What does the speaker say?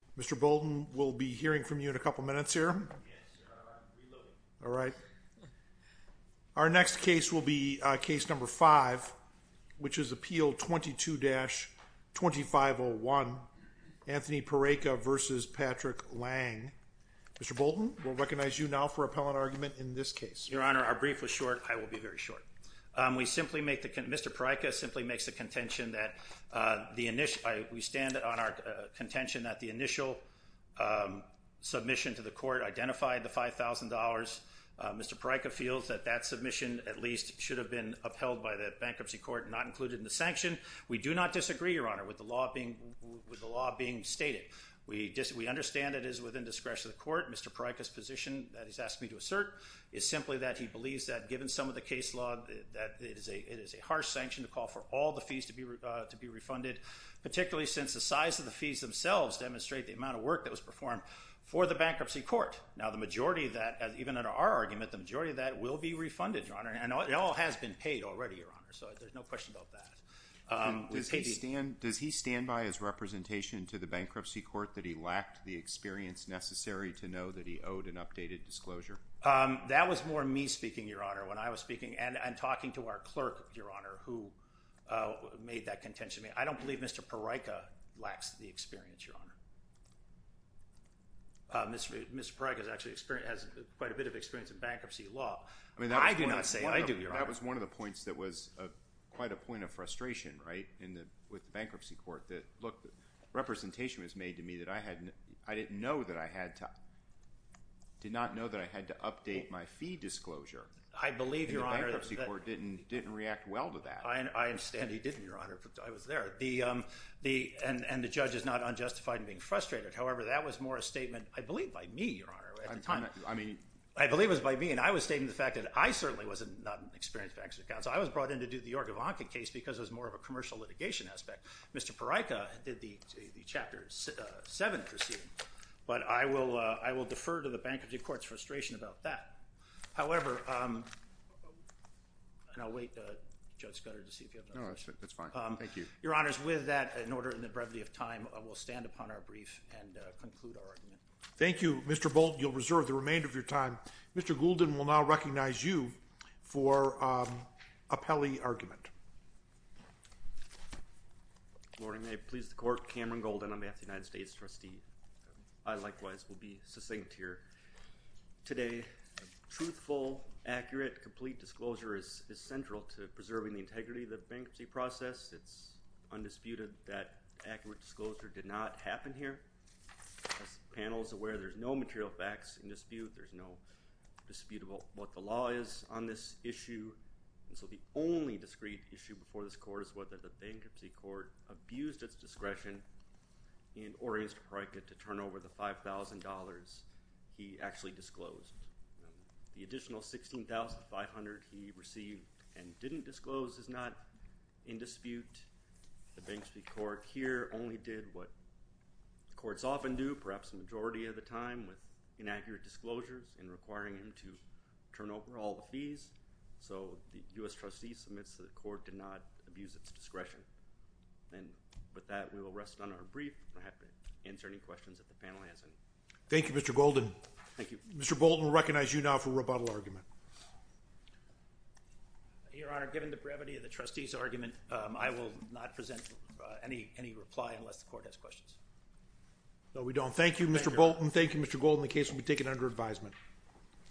Mr. Bolton, we'll be hearing from you in a couple minutes here. Yes, sir. I'm reloading. All right. Our next case will be case number five, which is appeal 22-2501, Anthony Peraica v. Patrick Layng. Mr. Bolton, we'll recognize you now for appellant argument in this case. Your Honor, our brief was short. I will be very short. Mr. Peraica simply makes the contention that the initial submission to the court identified the $5,000. Mr. Peraica feels that that submission at least should have been upheld by the bankruptcy court and not included in the sanction. We do not disagree, Your Honor, with the law being stated. We understand it is within discretion of the court. Mr. Peraica's position that he's asked me to assert is simply that he believes that given some of the case law, that it is a harsh sanction to call for all the fees to be refunded, particularly since the size of the fees themselves demonstrate the amount of work that was performed for the bankruptcy court. Now, the majority of that, even under our argument, the majority of that will be refunded, Your Honor, and it all has been paid already, Your Honor, so there's no question about that. Does he stand by his representation to the bankruptcy court that he lacked the experience necessary to know that he owed an updated disclosure? That was more me speaking, Your Honor, when I was speaking and talking to our clerk, Your Honor, who made that contention. I don't believe Mr. Peraica lacks the experience, Your Honor. Mr. Peraica actually has quite a bit of experience in bankruptcy law. I do not say that. I do, Your Honor. That was one of the points that was quite a point of frustration, right, with the bankruptcy court. Look, representation was made to me that I didn't know that I had to update my fee disclosure. I believe, Your Honor. And the bankruptcy court didn't react well to that. I understand he didn't, Your Honor. I was there. And the judge is not unjustified in being frustrated. However, that was more a statement, I believe, by me, Your Honor, at the time. I believe it was by me, and I was stating the fact that I certainly was not an experienced bankruptcy counsel. I was brought in to do the York-Ivanka case because it was more of a commercial litigation aspect. Mr. Peraica did the Chapter 7 proceeding, but I will defer to the bankruptcy court's frustration about that. However, and I'll wait, Judge Scudder, to see if you have another question. No, that's fine. Thank you. Your Honors, with that, in order in the brevity of time, we'll stand upon our brief and conclude our argument. Thank you, Mr. Bolt. You'll reserve the remainder of your time. Mr. Goulden will now recognize you for appellee argument. Good morning. May it please the Court, Cameron Goulden, on behalf of the United States Trustee. I, likewise, will be succinct here. Today, truthful, accurate, complete disclosure is central to preserving the integrity of the bankruptcy process. It's undisputed that accurate disclosure did not happen here. As the panel is aware, there's no material facts in dispute. There's no dispute about what the law is on this issue. And so the only discrete issue before this Court is whether the bankruptcy court abused its discretion and ordered Mr. Peraica to turn over the $5,000 he actually disclosed. The additional $16,500 he received and didn't disclose is not in dispute. The bankruptcy court here only did what the courts often do, perhaps the majority of the time, with inaccurate disclosures and requiring him to turn over all the fees. So the U.S. Trustee submits that the court did not abuse its discretion. And with that, we will rest on our brief and answer any questions that the panel has. Thank you, Mr. Goulden. Thank you. Mr. Goulden will recognize you now for rebuttal argument. Your Honor, given the brevity of the trustee's argument, I will not present any reply unless the court has questions. No, we don't. Thank you, Mr. Bolton. Thank you, Mr. Goulden. The case will be taken under advisement.